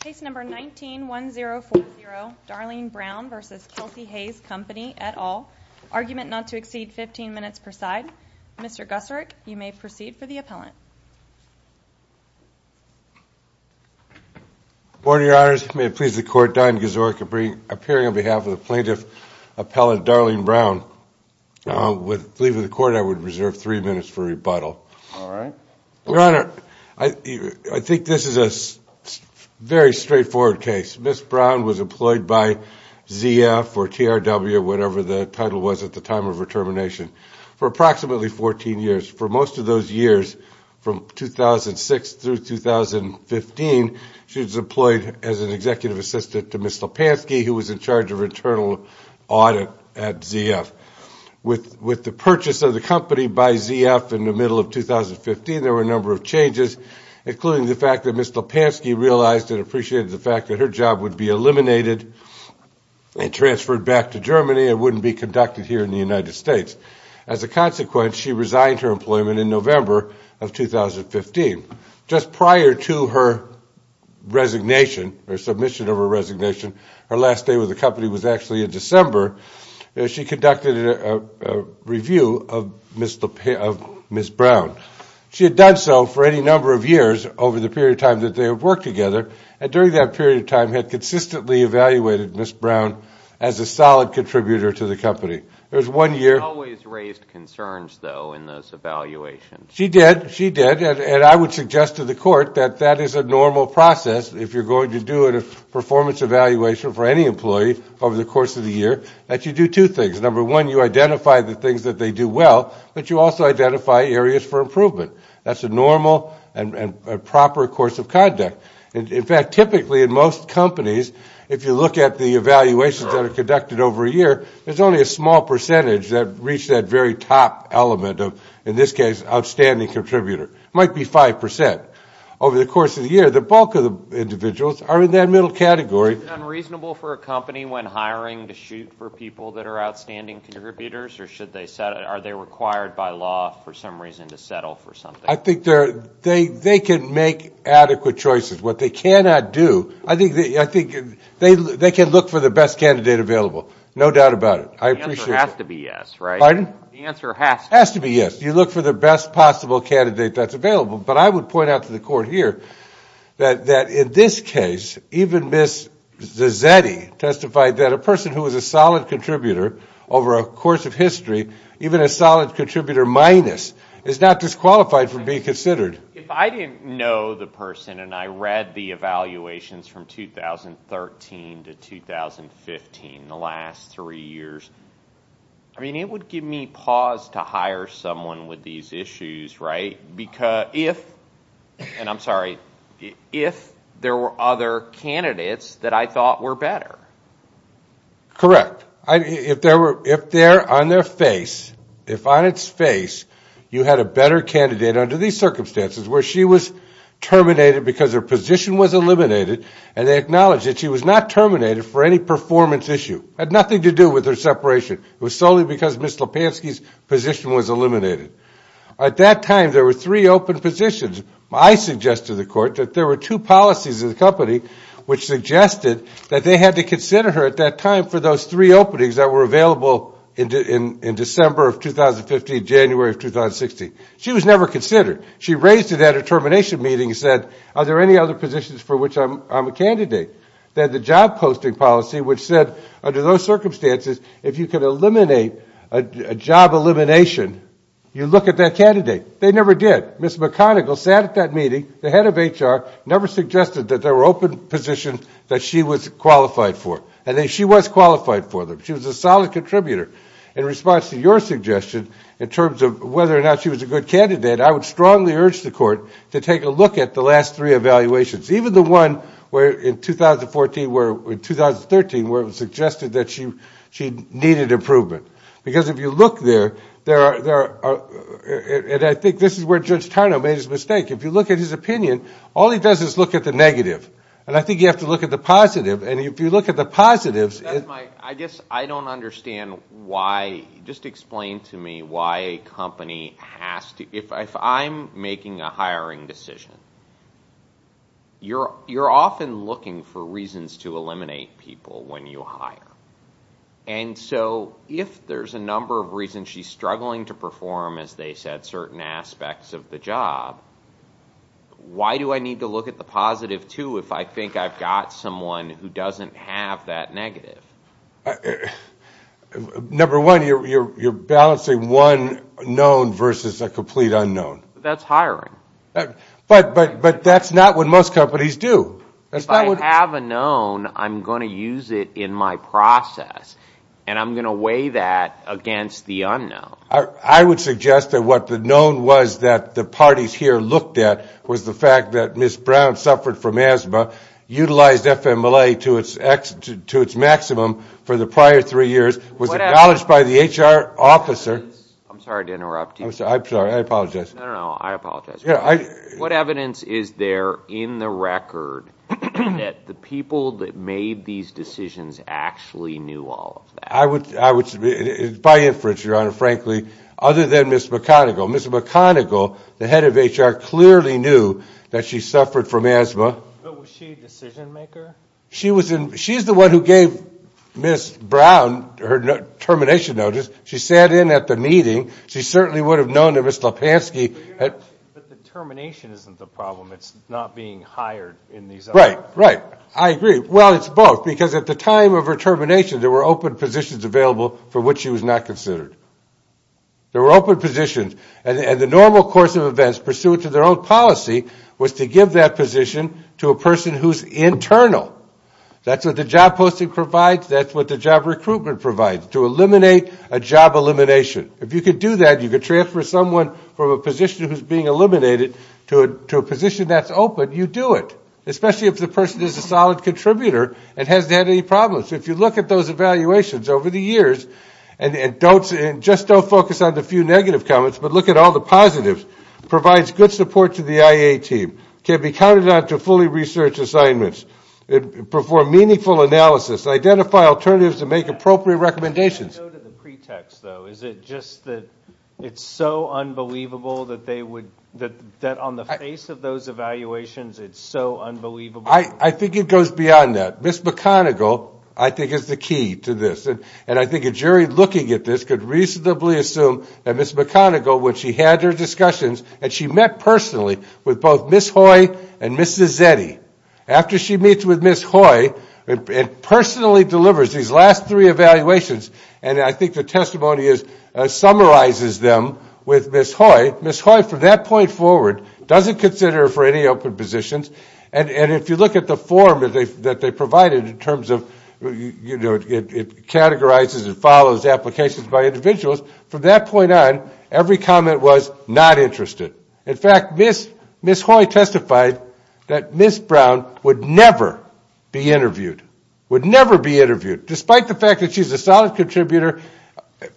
Case No. 19-1040, Darlene Brown v. Kelsey-Hayes Company, et al. Argument not to exceed 15 minutes per side. Mr. Gusarik, you may proceed for the appellant. Good morning, Your Honors. May it please the Court, Don Gusarik appearing on behalf of the plaintiff appellant Darlene Brown. With the leave of the Court, I would reserve three minutes for rebuttal. Your Honor, I think this is a very straightforward case. Ms. Brown was employed by ZF or TRW or whatever the title was at the time of her termination for approximately 14 years. For most of those years, from 2006 through 2015, she was employed as an executive assistant to Ms. Slopansky, who was in charge of internal audit at ZF. With the purchase of the company by ZF in the middle of 2015, there were a number of changes, including the fact that Ms. Slopansky realized and appreciated the fact that her job would be eliminated and transferred back to Germany and wouldn't be conducted here in the United States. As a consequence, she resigned her employment in November of 2015. Just prior to her resignation, her submission of her resignation, her last day with the company was actually in December. She conducted a review of Ms. Brown. She had done so for any number of years over the period of time that they had worked together, and during that period of time had consistently evaluated Ms. Brown as a solid contributor to the company. There was one year – She always raised concerns, though, in those evaluations. She did. She did. And I would suggest to the court that that is a normal process. If you're going to do a performance evaluation for any employee over the course of the year, that you do two things. Number one, you identify the things that they do well, but you also identify areas for improvement. That's a normal and proper course of conduct. In fact, typically in most companies, if you look at the evaluations that are conducted over a year, there's only a small percentage that reach that very top element of, in this case, outstanding contributor. It might be 5%. Over the course of the year, the bulk of the individuals are in that middle category. Is it unreasonable for a company when hiring to shoot for people that are outstanding contributors, or are they required by law for some reason to settle for something? I think they can make adequate choices. What they cannot do – I think they can look for the best candidate available. No doubt about it. I appreciate that. The answer has to be yes, right? Pardon? The answer has to be yes. Has to be yes. You look for the best possible candidate that's available. But I would point out to the court here that in this case, even Ms. Zazzetti testified that a person who is a solid contributor over a course of history, even a solid contributor minus, is not disqualified from being considered. If I didn't know the person and I read the evaluations from 2013 to 2015, the last three years, I mean, it would give me pause to hire someone with these issues, right? Because if – and I'm sorry – if there were other candidates that I thought were better. Correct. If they're on their face, if on its face you had a better candidate under these circumstances, where she was terminated because her position was eliminated, and they acknowledged that she was not terminated for any performance issue. It had nothing to do with her separation. It was solely because Ms. Lipansky's position was eliminated. At that time, there were three open positions. which suggested that they had to consider her at that time for those three openings that were available in December of 2015, January of 2016. She was never considered. She raised it at a termination meeting and said, are there any other positions for which I'm a candidate than the job posting policy, which said under those circumstances, if you could eliminate a job elimination, you look at that candidate. They never did. Ms. McConigle sat at that meeting, the head of HR, never suggested that there were open positions that she was qualified for. And she was qualified for them. She was a solid contributor. In response to your suggestion in terms of whether or not she was a good candidate, I would strongly urge the court to take a look at the last three evaluations, even the one where in 2014, where in 2013, where it was suggested that she needed improvement. Because if you look there, there are, and I think this is where Judge Tarnow made his mistake. If you look at his opinion, all he does is look at the negative. And I think you have to look at the positive. And if you look at the positives. I guess I don't understand why, just explain to me why a company has to, if I'm making a hiring decision, you're often looking for reasons to eliminate people when you hire. And so if there's a number of reasons she's struggling to perform, as they said, certain aspects of the job, why do I need to look at the positive too if I think I've got someone who doesn't have that negative? Number one, you're balancing one known versus a complete unknown. That's hiring. But that's not what most companies do. If I have a known, I'm going to use it in my process. And I'm going to weigh that against the unknown. I would suggest that what the known was that the parties here looked at was the fact that Ms. Brown suffered from asthma, utilized FMLA to its maximum for the prior three years, was acknowledged by the HR officer. I'm sorry to interrupt you. I'm sorry. I apologize. No, no, no. I apologize. What evidence is there in the record that the people that made these decisions actually knew all of that? I would submit, by inference, Your Honor, frankly, other than Ms. McConigle. Ms. McConigle, the head of HR, clearly knew that she suffered from asthma. But was she a decision maker? She's the one who gave Ms. Brown her termination notice. She sat in at the meeting. She certainly would have known that Ms. Lipansky had. But the termination isn't the problem. It's not being hired in these other. Right, right. I agree. Well, it's both. Because at the time of her termination, there were open positions available for which she was not considered. There were open positions. And the normal course of events, pursuant to their own policy, was to give that position to a person who's internal. That's what the job posting provides. That's what the job recruitment provides, to eliminate a job elimination. If you can do that, you can transfer someone from a position who's being eliminated to a position that's open, you do it. Especially if the person is a solid contributor and hasn't had any problems. If you look at those evaluations over the years, and just don't focus on the few negative comments, but look at all the positives, provides good support to the IA team, can be counted on to fully research assignments, perform meaningful analysis, identify alternatives to make appropriate recommendations. Can I go to the pretext, though? Is it just that it's so unbelievable that they would, that on the face of those evaluations, it's so unbelievable? I think it goes beyond that. Ms. McConigle, I think, is the key to this. And I think a jury looking at this could reasonably assume that Ms. McConigle, when she had her discussions, and she met personally with both Ms. Hoy and Mrs. Zetti. After she meets with Ms. Hoy and personally delivers these last three evaluations, and I think the testimony summarizes them with Ms. Hoy, Ms. Hoy, from that point forward, doesn't consider her for any open positions. And if you look at the form that they provided in terms of, you know, it categorizes and follows applications by individuals, from that point on, every comment was not interested. In fact, Ms. Hoy testified that Ms. Brown would never be interviewed, would never be interviewed, despite the fact that she's a solid contributor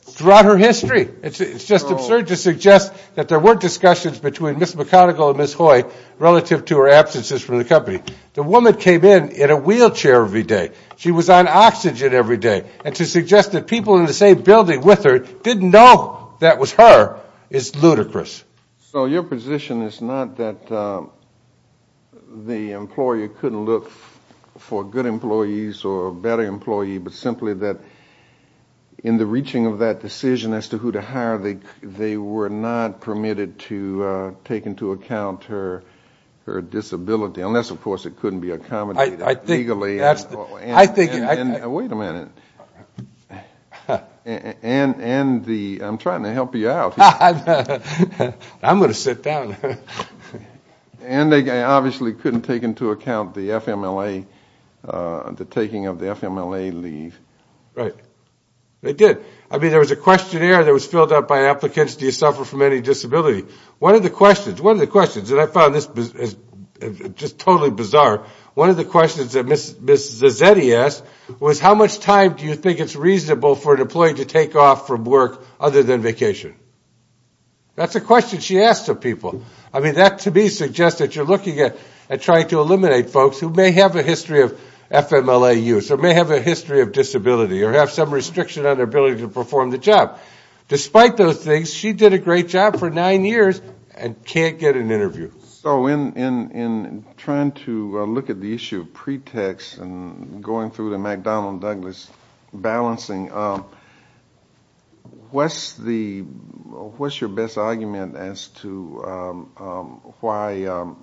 throughout her history. It's just absurd to suggest that there weren't discussions between Ms. McConigle and Ms. Hoy relative to her absences from the company. The woman came in in a wheelchair every day. She was on oxygen every day. And to suggest that people in the same building with her didn't know that was her is ludicrous. So your position is not that the employer couldn't look for good employees or a better employee, but simply that in the reaching of that decision as to who to hire, they were not permitted to take into account her disability, unless, of course, it couldn't be accommodated legally. Wait a minute. I'm trying to help you out. I'm going to sit down. And they obviously couldn't take into account the taking of the FMLA leave. Right. They did. I mean, there was a questionnaire that was filled out by applicants, do you suffer from any disability. One of the questions, one of the questions, and I found this just totally bizarre, one of the questions that Ms. Zazetti asked was, how much time do you think it's reasonable for an employee to take off from work other than vacation? That's a question she asked of people. I mean, that to me suggests that you're looking at trying to eliminate folks who may have a history of FMLA use or may have a history of disability or have some restriction on their ability to perform the job. Despite those things, she did a great job for nine years and can't get an interview. So in trying to look at the issue of pretext and going through the McDonnell-Douglas balancing, what's the, what's your best argument as to why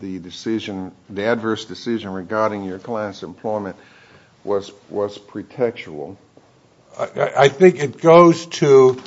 the decision, the adverse decision regarding your client's employment was pretextual? I think it goes to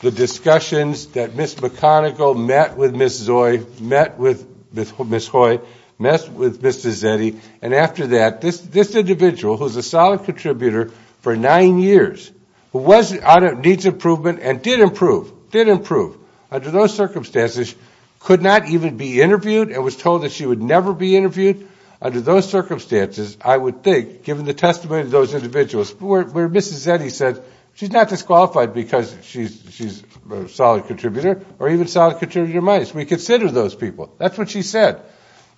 the discussions that Ms. McConigle met with Ms. Zoi, met with Ms. Hoy, met with Ms. Zazetti, and after that, this individual, who's a solid contributor for nine years, who was out of needs improvement and did improve, did improve, under those circumstances could not even be interviewed and was told that she would never be interviewed. Under those circumstances, I would think, given the testimony of those individuals, where Ms. Zazetti said she's not disqualified because she's a solid contributor or even solid contributor minus. We consider those people. That's what she said.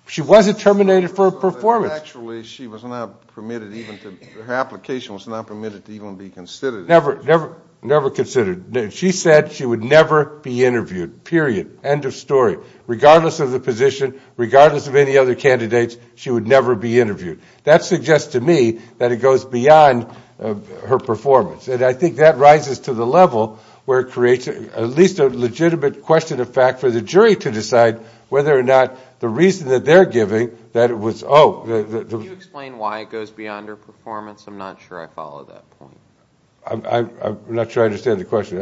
She wasn't terminated for a performance. Actually, she was not permitted even to, her application was not permitted to even be considered. Never, never, never considered. She said she would never be interviewed, period. End of story. Regardless of the position, regardless of any other candidates, she would never be interviewed. That suggests to me that it goes beyond her performance, and I think that rises to the level where it creates at least a legitimate question of fact for the jury to decide whether or not the reason that they're giving that it was, oh. Can you explain why it goes beyond her performance? I'm not sure I follow that point. I'm not sure I understand the question.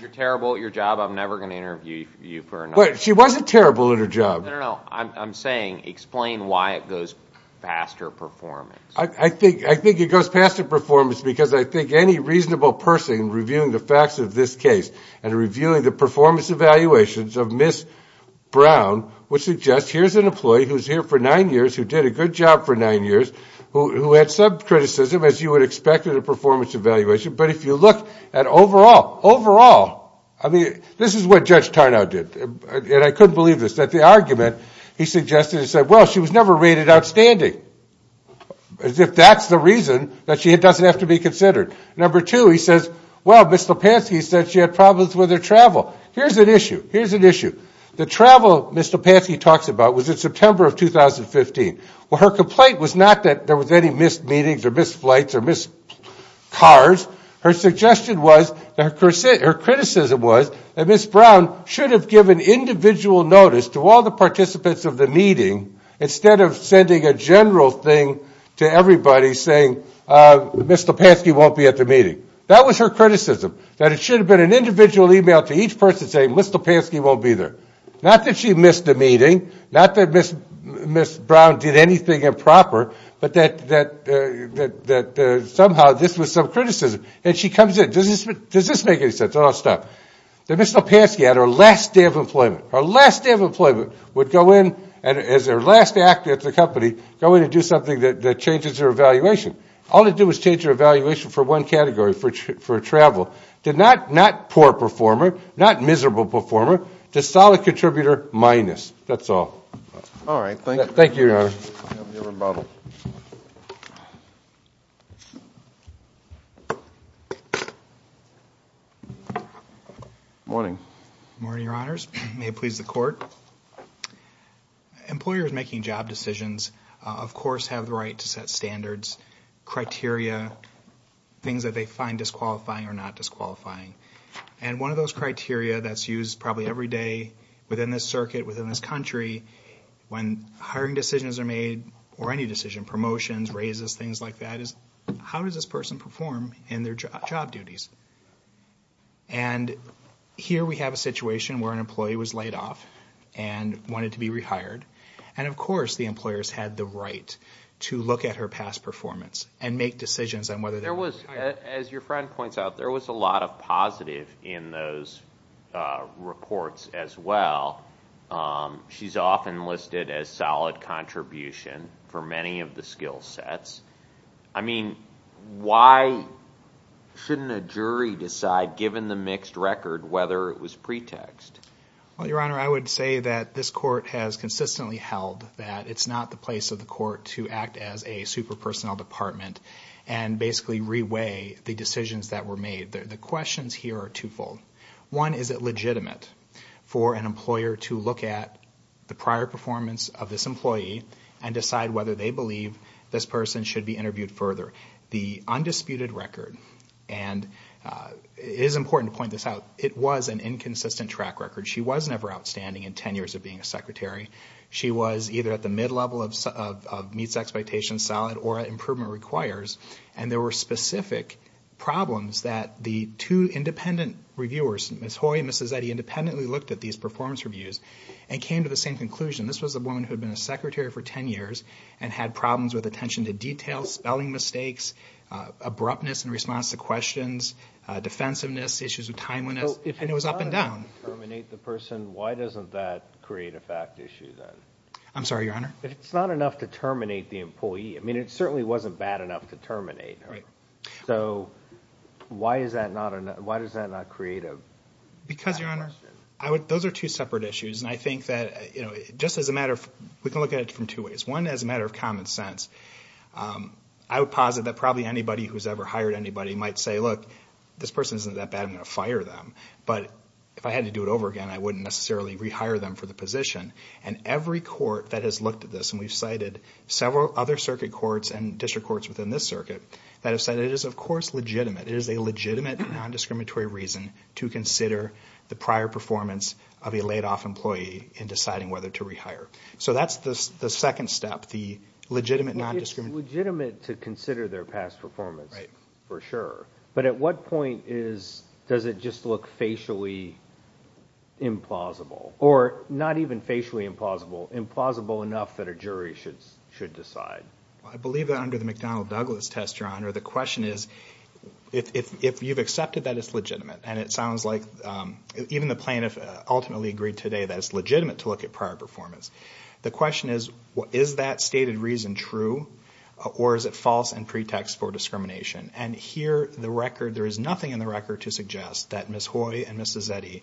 You're terrible at your job. I'm never going to interview you for another. She wasn't terrible at her job. No, no, no. I'm saying explain why it goes past her performance. I think it goes past her performance because I think any reasonable person reviewing the facts of this case and reviewing the performance evaluations of Ms. Brown would suggest here's an employee who's here for nine years, who did a good job for nine years, who had some criticism, as you would expect in a performance evaluation, but if you look at overall, overall, I mean this is what Judge Tarnow did. And I couldn't believe this, that the argument he suggested is that, well, she was never rated outstanding, as if that's the reason that she doesn't have to be considered. Number two, he says, well, Ms. Topansky said she had problems with her travel. Here's an issue. Here's an issue. The travel Ms. Topansky talks about was in September of 2015. Well, her complaint was not that there was any missed meetings or missed flights or missed cars. Her suggestion was, her criticism was that Ms. Brown should have given individual notice to all the participants of the meeting, instead of sending a general thing to everybody saying Ms. Topansky won't be at the meeting. That was her criticism, that it should have been an individual email to each person saying Ms. Topansky won't be there. Not that she missed a meeting, not that Ms. Brown did anything improper, but that somehow this was some criticism. And she comes in. Does this make any sense? I'll stop. Ms. Topansky had her last day of employment. Her last day of employment would go in as her last act at the company, go in and do something that changes her evaluation. All it did was change her evaluation for one category, for travel. Not poor performer, not miserable performer, just solid contributor minus. All right. Thank you. Thank you, Your Honor. You have your rebuttal. Morning. Morning, Your Honors. May it please the Court. Employers making job decisions, of course, have the right to set standards, criteria, things that they find disqualifying or not disqualifying. And one of those criteria that's used probably every day within this circuit, within this country, when hiring decisions are made or any decision, promotions, raises, things like that, is how does this person perform in their job duties? And here we have a situation where an employee was laid off and wanted to be rehired. And, of course, the employers had the right to look at her past performance and make decisions on whether they would hire her. As your friend points out, there was a lot of positive in those reports as well. She's often listed as solid contribution for many of the skill sets. I mean, why shouldn't a jury decide, given the mixed record, whether it was pretext? Well, Your Honor, I would say that this Court has consistently held that it's not the place of the Court to act as a super personnel department and basically reweigh the decisions that were made. The questions here are twofold. One, is it legitimate for an employer to look at the prior performance of this employee and decide whether they believe this person should be interviewed further? The undisputed record, and it is important to point this out, it was an inconsistent track record. She was never outstanding in 10 years of being a secretary. She was either at the mid-level of meets expectations, solid, or improvement requires. And there were specific problems that the two independent reviewers, Ms. Hoy and Mrs. Zeddy, independently looked at these performance reviews and came to the same conclusion. This was a woman who had been a secretary for 10 years and had problems with attention to detail, spelling mistakes, abruptness in response to questions, defensiveness, issues with timeliness, and it was up and down. If it's not enough to terminate the person, why doesn't that create a fact issue then? I'm sorry, Your Honor? If it's not enough to terminate the employee, I mean, it certainly wasn't bad enough to terminate her. So why does that not create a fact issue? Because, Your Honor, those are two separate issues, and I think that, you know, just as a matter of, we can look at it from two ways. One, as a matter of common sense, I would posit that probably anybody who's ever hired anybody might say, look, this person isn't that bad, I'm going to fire them. But if I had to do it over again, I wouldn't necessarily rehire them for the position. And every court that has looked at this, and we've cited several other circuit courts and district courts within this circuit that have said it is, of course, legitimate. It is a legitimate non-discriminatory reason to consider the prior performance of a laid-off employee in deciding whether to rehire. So that's the second step, the legitimate non-discriminatory. It's legitimate to consider their past performance, for sure. But at what point does it just look facially implausible? Or not even facially implausible, implausible enough that a jury should decide? I believe that under the McDonnell-Douglas test, Your Honor, the question is, if you've accepted that it's legitimate, and it sounds like even the plaintiff ultimately agreed today that it's legitimate to look at prior performance, the question is, is that stated reason true, or is it false and pretext for discrimination? And here, the record, there is nothing in the record to suggest that Ms. Hoy and Ms. Zetti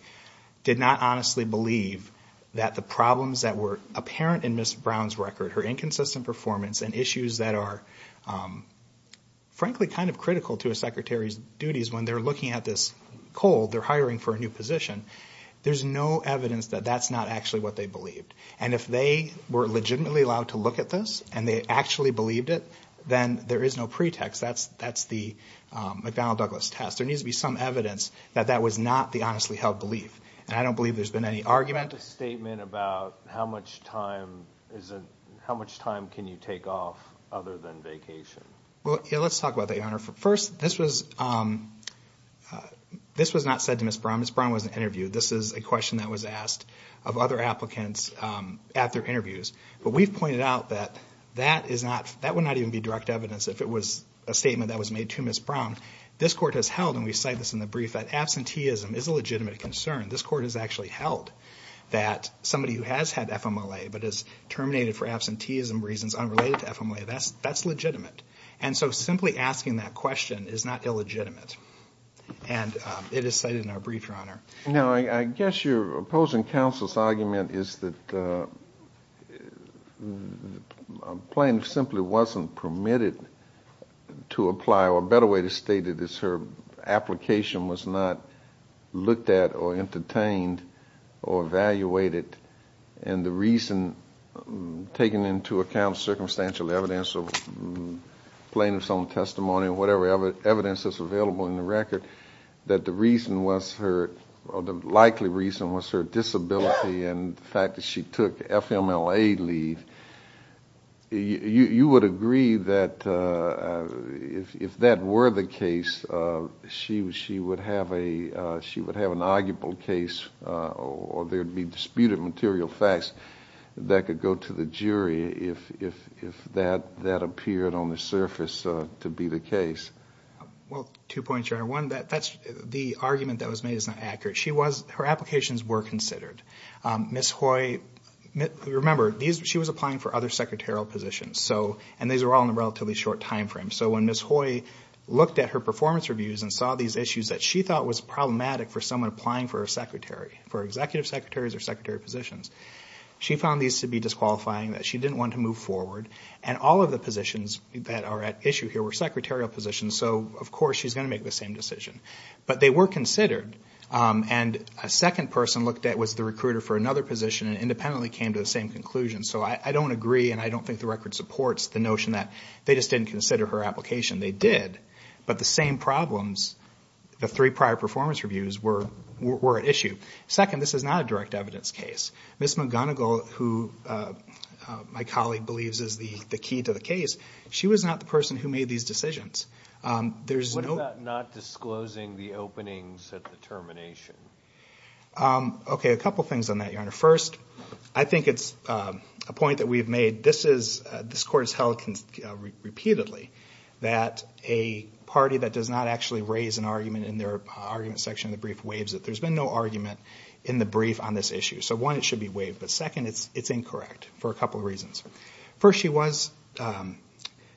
did not honestly believe that the problems that were apparent in Ms. Brown's record, her inconsistent performance and issues that are, frankly, kind of critical to a secretary's duties when they're looking at this cold, they're hiring for a new position, there's no evidence that that's not actually what they believed. And if they were legitimately allowed to look at this, and they actually believed it, then there is no pretext. That's the McDonnell-Douglas test. There needs to be some evidence that that was not the honestly held belief. And I don't believe there's been any argument. Is there a statement about how much time can you take off other than vacation? Well, let's talk about that, Your Honor. First, this was not said to Ms. Brown. Ms. Brown wasn't interviewed. This is a question that was asked of other applicants at their interviews. But we've pointed out that that would not even be direct evidence if it was a statement that was made to Ms. Brown. This court has held, and we cite this in the brief, that absenteeism is a legitimate concern. This court has actually held that somebody who has had FMLA but is terminated for absenteeism reasons unrelated to FMLA, that's legitimate. And so simply asking that question is not illegitimate. And it is cited in our brief, Your Honor. Now, I guess your opposing counsel's argument is that a plaintiff simply wasn't permitted to apply, or a better way to state it is her application was not looked at or entertained or evaluated. And the reason, taking into account circumstantial evidence of plaintiff's own testimony or whatever evidence is available in the record, that the reason was her, or the likely reason was her disability and the fact that she took FMLA leave, you would agree that if that were the case, she would have an arguable case or there would be disputed material facts that could go to the jury if that appeared on the surface to be the case. Well, two points, Your Honor. One, the argument that was made is not accurate. Her applications were considered. Ms. Hoy, remember, she was applying for other secretarial positions, and these were all in a relatively short time frame. So when Ms. Hoy looked at her performance reviews and saw these issues that she thought was problematic for someone applying for a secretary, for executive secretaries or secretary positions, she found these to be disqualifying, that she didn't want to move forward, and all of the positions that are at issue here were secretarial positions. So, of course, she's going to make the same decision. But they were considered, and a second person looked at was the recruiter for another position and independently came to the same conclusion. So I don't agree and I don't think the record supports the notion that they just didn't consider her application. They did, but the same problems, the three prior performance reviews, were at issue. Second, this is not a direct evidence case. Ms. McGonigal, who my colleague believes is the key to the case, she was not the person who made these decisions. There's no- What about not disclosing the openings at the termination? Okay, a couple things on that, Your Honor. First, I think it's a point that we've made. This Court has held repeatedly that a party that does not actually raise an argument in their argument section of the brief waives it. There's been no argument in the brief on this issue. So one, it should be waived, but second, it's incorrect for a couple of reasons. First, she was-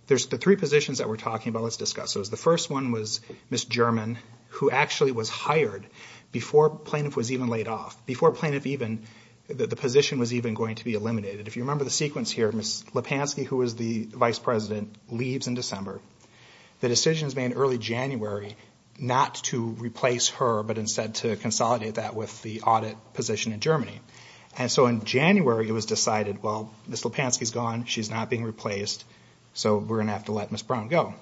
There's the three positions that we're talking about, let's discuss those. The first one was Ms. German, who actually was hired before plaintiff was even laid off, before plaintiff even- the position was even going to be eliminated. If you remember the sequence here, Ms. Lipansky, who was the vice president, leaves in December. The decision is made early January not to replace her, but instead to consolidate that with the audit position in Germany. And so in January, it was decided, well, Ms. Lipansky's gone, she's not being replaced, so we're going to have to let Ms. Brown go.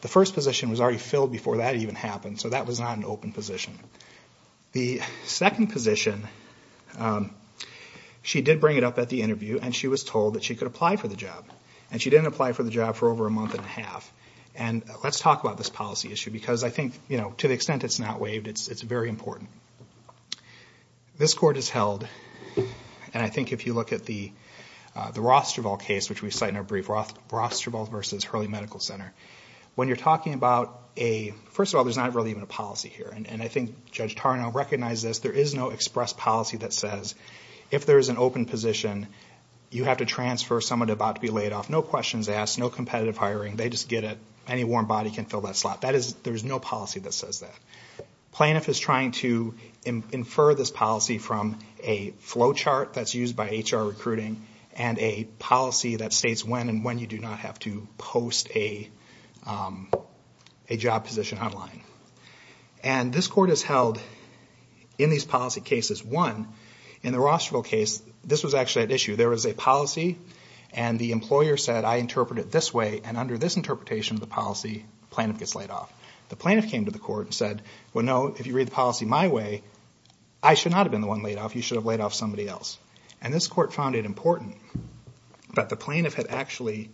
The first position was already filled before that even happened, so that was not an open position. The second position, she did bring it up at the interview, and she was told that she could apply for the job. And she didn't apply for the job for over a month and a half. And let's talk about this policy issue, because I think, you know, to the extent it's not waived, it's very important. This court is held, and I think if you look at the Rothstrevall case, which we cite in our brief, Rothstrevall v. Hurley Medical Center, when you're talking about a- first of all, there's not really even a policy here. And I think Judge Tarnow recognized this. There is no express policy that says if there is an open position, you have to transfer someone about to be laid off. No questions asked. No competitive hiring. They just get it. Any warm body can fill that slot. There is no policy that says that. Plaintiff is trying to infer this policy from a flow chart that's used by HR recruiting and a policy that states when and when you do not have to post a job position online. And this court is held in these policy cases. One, in the Rothstrevall case, this was actually at issue. There was a policy, and the employer said, I interpret it this way, and under this interpretation of the policy, plaintiff gets laid off. The plaintiff came to the court and said, well, no, if you read the policy my way, I should not have been the one laid off. You should have laid off somebody else. And this court found it important that the plaintiff had actually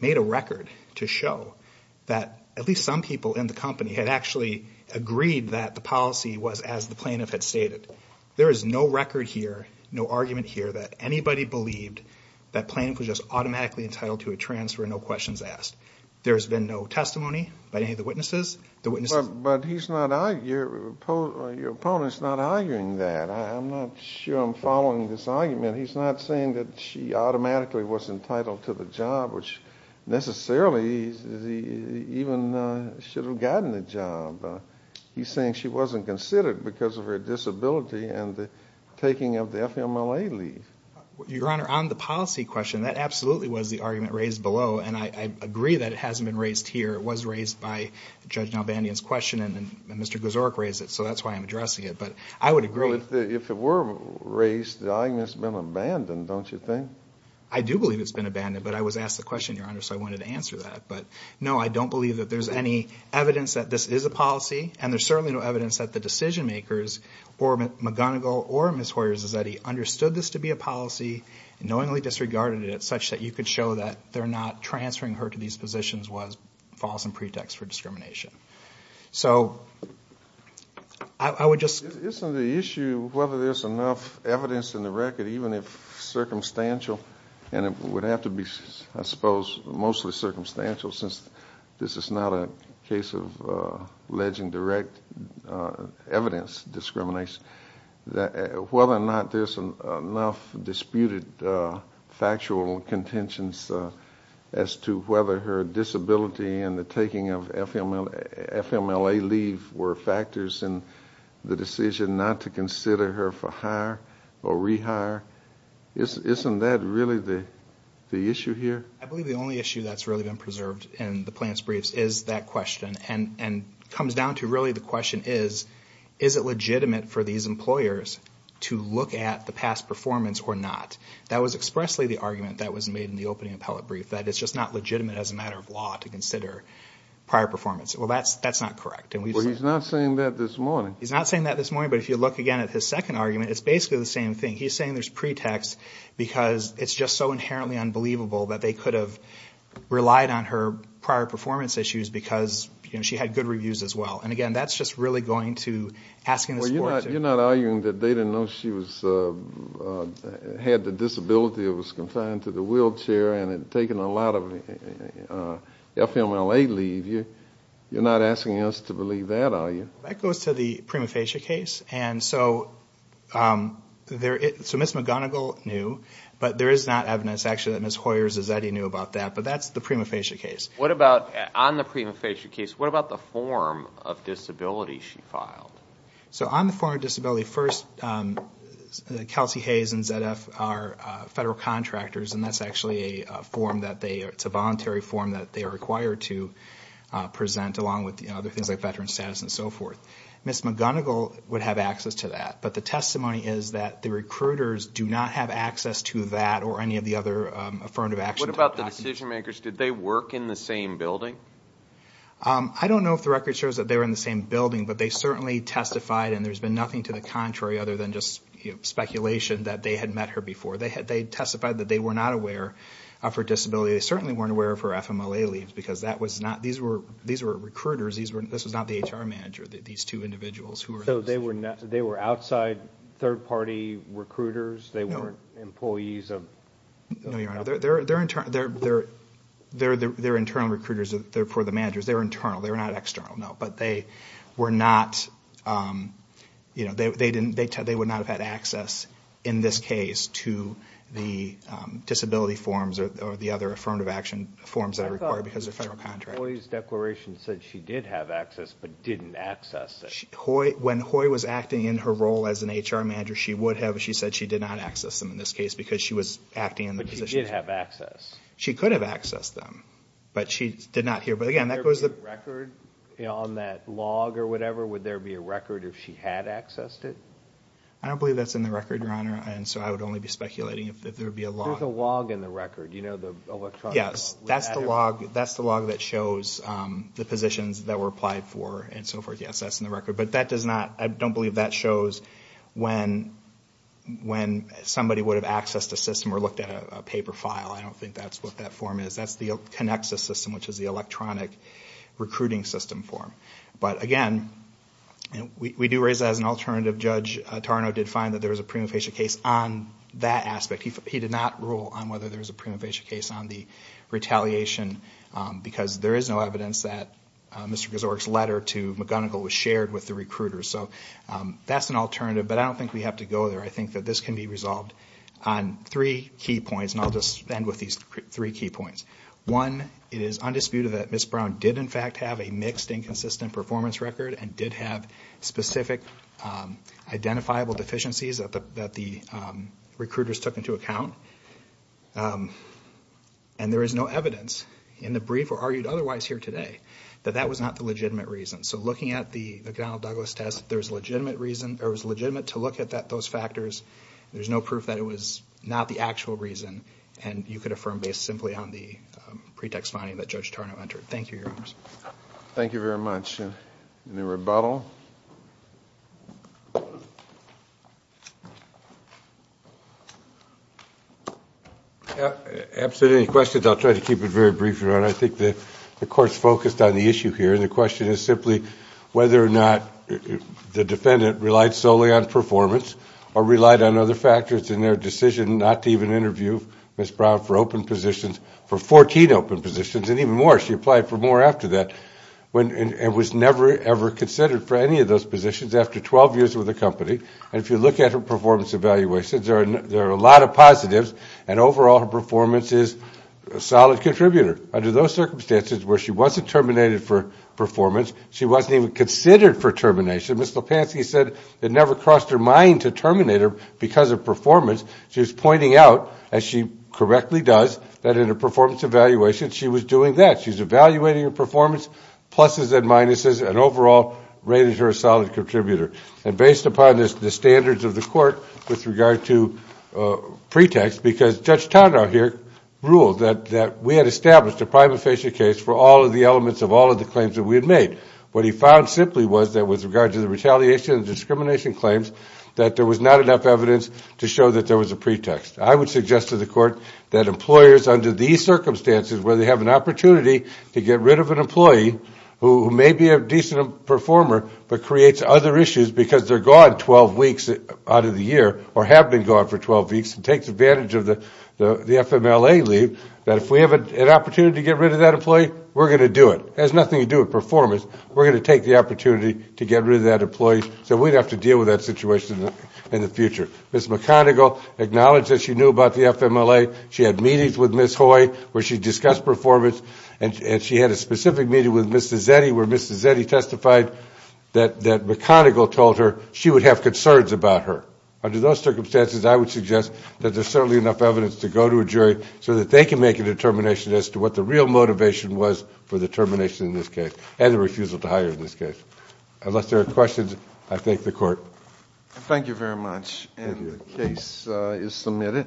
made a record to show that at least some people in the company had actually agreed that the policy was as the plaintiff had stated. There is no record here, no argument here, that anybody believed that plaintiff was just automatically entitled to a transfer and no questions asked. There has been no testimony by any of the witnesses. But your opponent is not arguing that. I'm not sure I'm following this argument. He's not saying that she automatically was entitled to the job, which necessarily even should have gotten the job. He's saying she wasn't considered because of her disability and the taking of the FMLA leave. Your Honor, on the policy question, that absolutely was the argument raised below, and I agree that it hasn't been raised here. It was raised by Judge Nalbandian's question, and Mr. Guzzoric raised it, so that's why I'm addressing it. But I would agree. Well, if it were raised, the argument's been abandoned, don't you think? I do believe it's been abandoned, but I was asked the question, Your Honor, so I wanted to answer that. But, no, I don't believe that there's any evidence that this is a policy, and there's certainly no evidence that the decision-makers, or McGonigal or Ms. Hoyers, is that he understood this to be a policy and knowingly disregarded it, such that you could show that transferring her to these positions was a false pretext for discrimination. So I would just... Isn't the issue whether there's enough evidence in the record, even if circumstantial, and it would have to be, I suppose, mostly circumstantial, since this is not a case of alleging direct evidence discrimination, whether or not there's enough disputed factual contentions as to whether her disability and the taking of FMLA leave were factors in the decision not to consider her for hire or rehire? Isn't that really the issue here? I believe the only issue that's really been preserved in the Plants briefs is that question, and comes down to really the question is, is it legitimate for these employers to look at the past performance or not? That was expressly the argument that was made in the opening appellate brief, that it's just not legitimate as a matter of law to consider prior performance. Well, that's not correct. Well, he's not saying that this morning. He's not saying that this morning, but if you look again at his second argument, it's basically the same thing. He's saying there's pretext because it's just so inherently unbelievable that they could have relied on her prior performance issues because she had good reviews as well. And, again, that's just really going to asking the court to ---- Well, you're not arguing that they didn't know she had the disability or was confined to the wheelchair and had taken a lot of FMLA leave. You're not asking us to believe that, are you? That goes to the prima facie case, and so Ms. McGonigal knew, but there is not evidence actually that Ms. Hoyer-Zazetti knew about that. But that's the prima facie case. What about on the prima facie case, what about the form of disability she filed? So on the form of disability, first, Kelsey Hayes and ZF are federal contractors, and that's actually a form that they ---- it's a voluntary form that they are required to present along with other things like veteran status and so forth. Ms. McGonigal would have access to that, but the testimony is that the recruiters do not have access to that or any of the other affirmative action. What about the decision makers? Did they work in the same building? I don't know if the record shows that they were in the same building, but they certainly testified, and there's been nothing to the contrary other than just speculation that they had met her before. They testified that they were not aware of her disability. They certainly weren't aware of her FMLA leaves because that was not ---- these were recruiters. This was not the HR manager, these two individuals. So they were outside third-party recruiters? No. They weren't employees of ---- No, Your Honor. They're internal recruiters. They're for the managers. They're internal. They're not external, no. But they were not ---- they would not have had access in this case to the disability forms or the other affirmative action forms that are required because they're federal contracts. Hoy's declaration said she did have access but didn't access it. When Hoy was acting in her role as an HR manager, she would have. She said she did not access them in this case because she was acting in the position. But she did have access. She could have accessed them, but she did not here. But, again, that goes to the ---- Would there be a record on that log or whatever? Would there be a record if she had accessed it? I don't believe that's in the record, Your Honor, and so I would only be speculating if there would be a log. There's a log in the record, you know, the electronic log. Yes, that's the log that shows the positions that were applied for and so forth. Yes, that's in the record. But that does not ---- I don't believe that shows when somebody would have accessed a system or looked at a paper file. I don't think that's what that form is. That connects the system, which is the electronic recruiting system form. But, again, we do raise that as an alternative. Judge Tarnow did find that there was a prima facie case on that aspect. He did not rule on whether there was a prima facie case on the retaliation because there is no evidence that Mr. Gazorek's letter to McGonigal was shared with the recruiters. So that's an alternative, but I don't think we have to go there. I think that this can be resolved on three key points, and I'll just end with these three key points. One, it is undisputed that Ms. Brown did, in fact, have a mixed and consistent performance record and did have specific identifiable deficiencies that the recruiters took into account. And there is no evidence in the brief or argued otherwise here today that that was not the legitimate reason. So looking at the McGonigal-Douglas test, there was legitimate to look at those factors. There's no proof that it was not the actual reason, and you could affirm based simply on the pretext finding that Judge Tarnow entered. Thank you, Your Honors. Thank you very much. Any rebuttal? Absolutely. Any questions, I'll try to keep it very brief, Your Honor. I think the Court's focused on the issue here, and the question is simply whether or not the defendant relied solely on performance or relied on other factors in their decision not to even interview Ms. Brown for open positions, for 14 open positions, and even more, she applied for more after that, and was never ever considered for any of those positions after 12 years with the company. And if you look at her performance evaluations, there are a lot of positives, and overall, her performance is a solid contributor. Under those circumstances where she wasn't terminated for performance, she wasn't even considered for termination, Ms. Lipansky said it never crossed her mind to terminate her because of performance. She was pointing out, as she correctly does, that in her performance evaluation, she was doing that. She's evaluating her performance, pluses and minuses, and overall, rated her a solid contributor. And based upon the standards of the Court with regard to pretext, because Judge Tarnow here ruled that we had established a prima facie case for all of the elements of all of the claims that we had made. What he found simply was that with regard to the retaliation and discrimination claims, that there was not enough evidence to show that there was a pretext. I would suggest to the Court that employers under these circumstances, where they have an opportunity to get rid of an employee who may be a decent performer, but creates other issues because they're gone 12 weeks out of the year, or have been gone for 12 weeks, and takes advantage of the FMLA leave, that if we have an opportunity to get rid of that employee, we're going to do it. It has nothing to do with performance. We're going to take the opportunity to get rid of that employee so we don't have to deal with that situation in the future. Ms. McConnegal acknowledged that she knew about the FMLA. She had meetings with Ms. Hoy where she discussed performance, and she had a specific meeting with Mr. Zetti where Mr. Zetti testified that McConnegal told her she would have concerns about her. Under those circumstances, I would suggest that there's certainly enough evidence to go to a jury so that they can make a determination as to what the real motivation was for the termination in this case, and the refusal to hire in this case. Unless there are questions, I thank the Court. Thank you very much, and the case is submitted.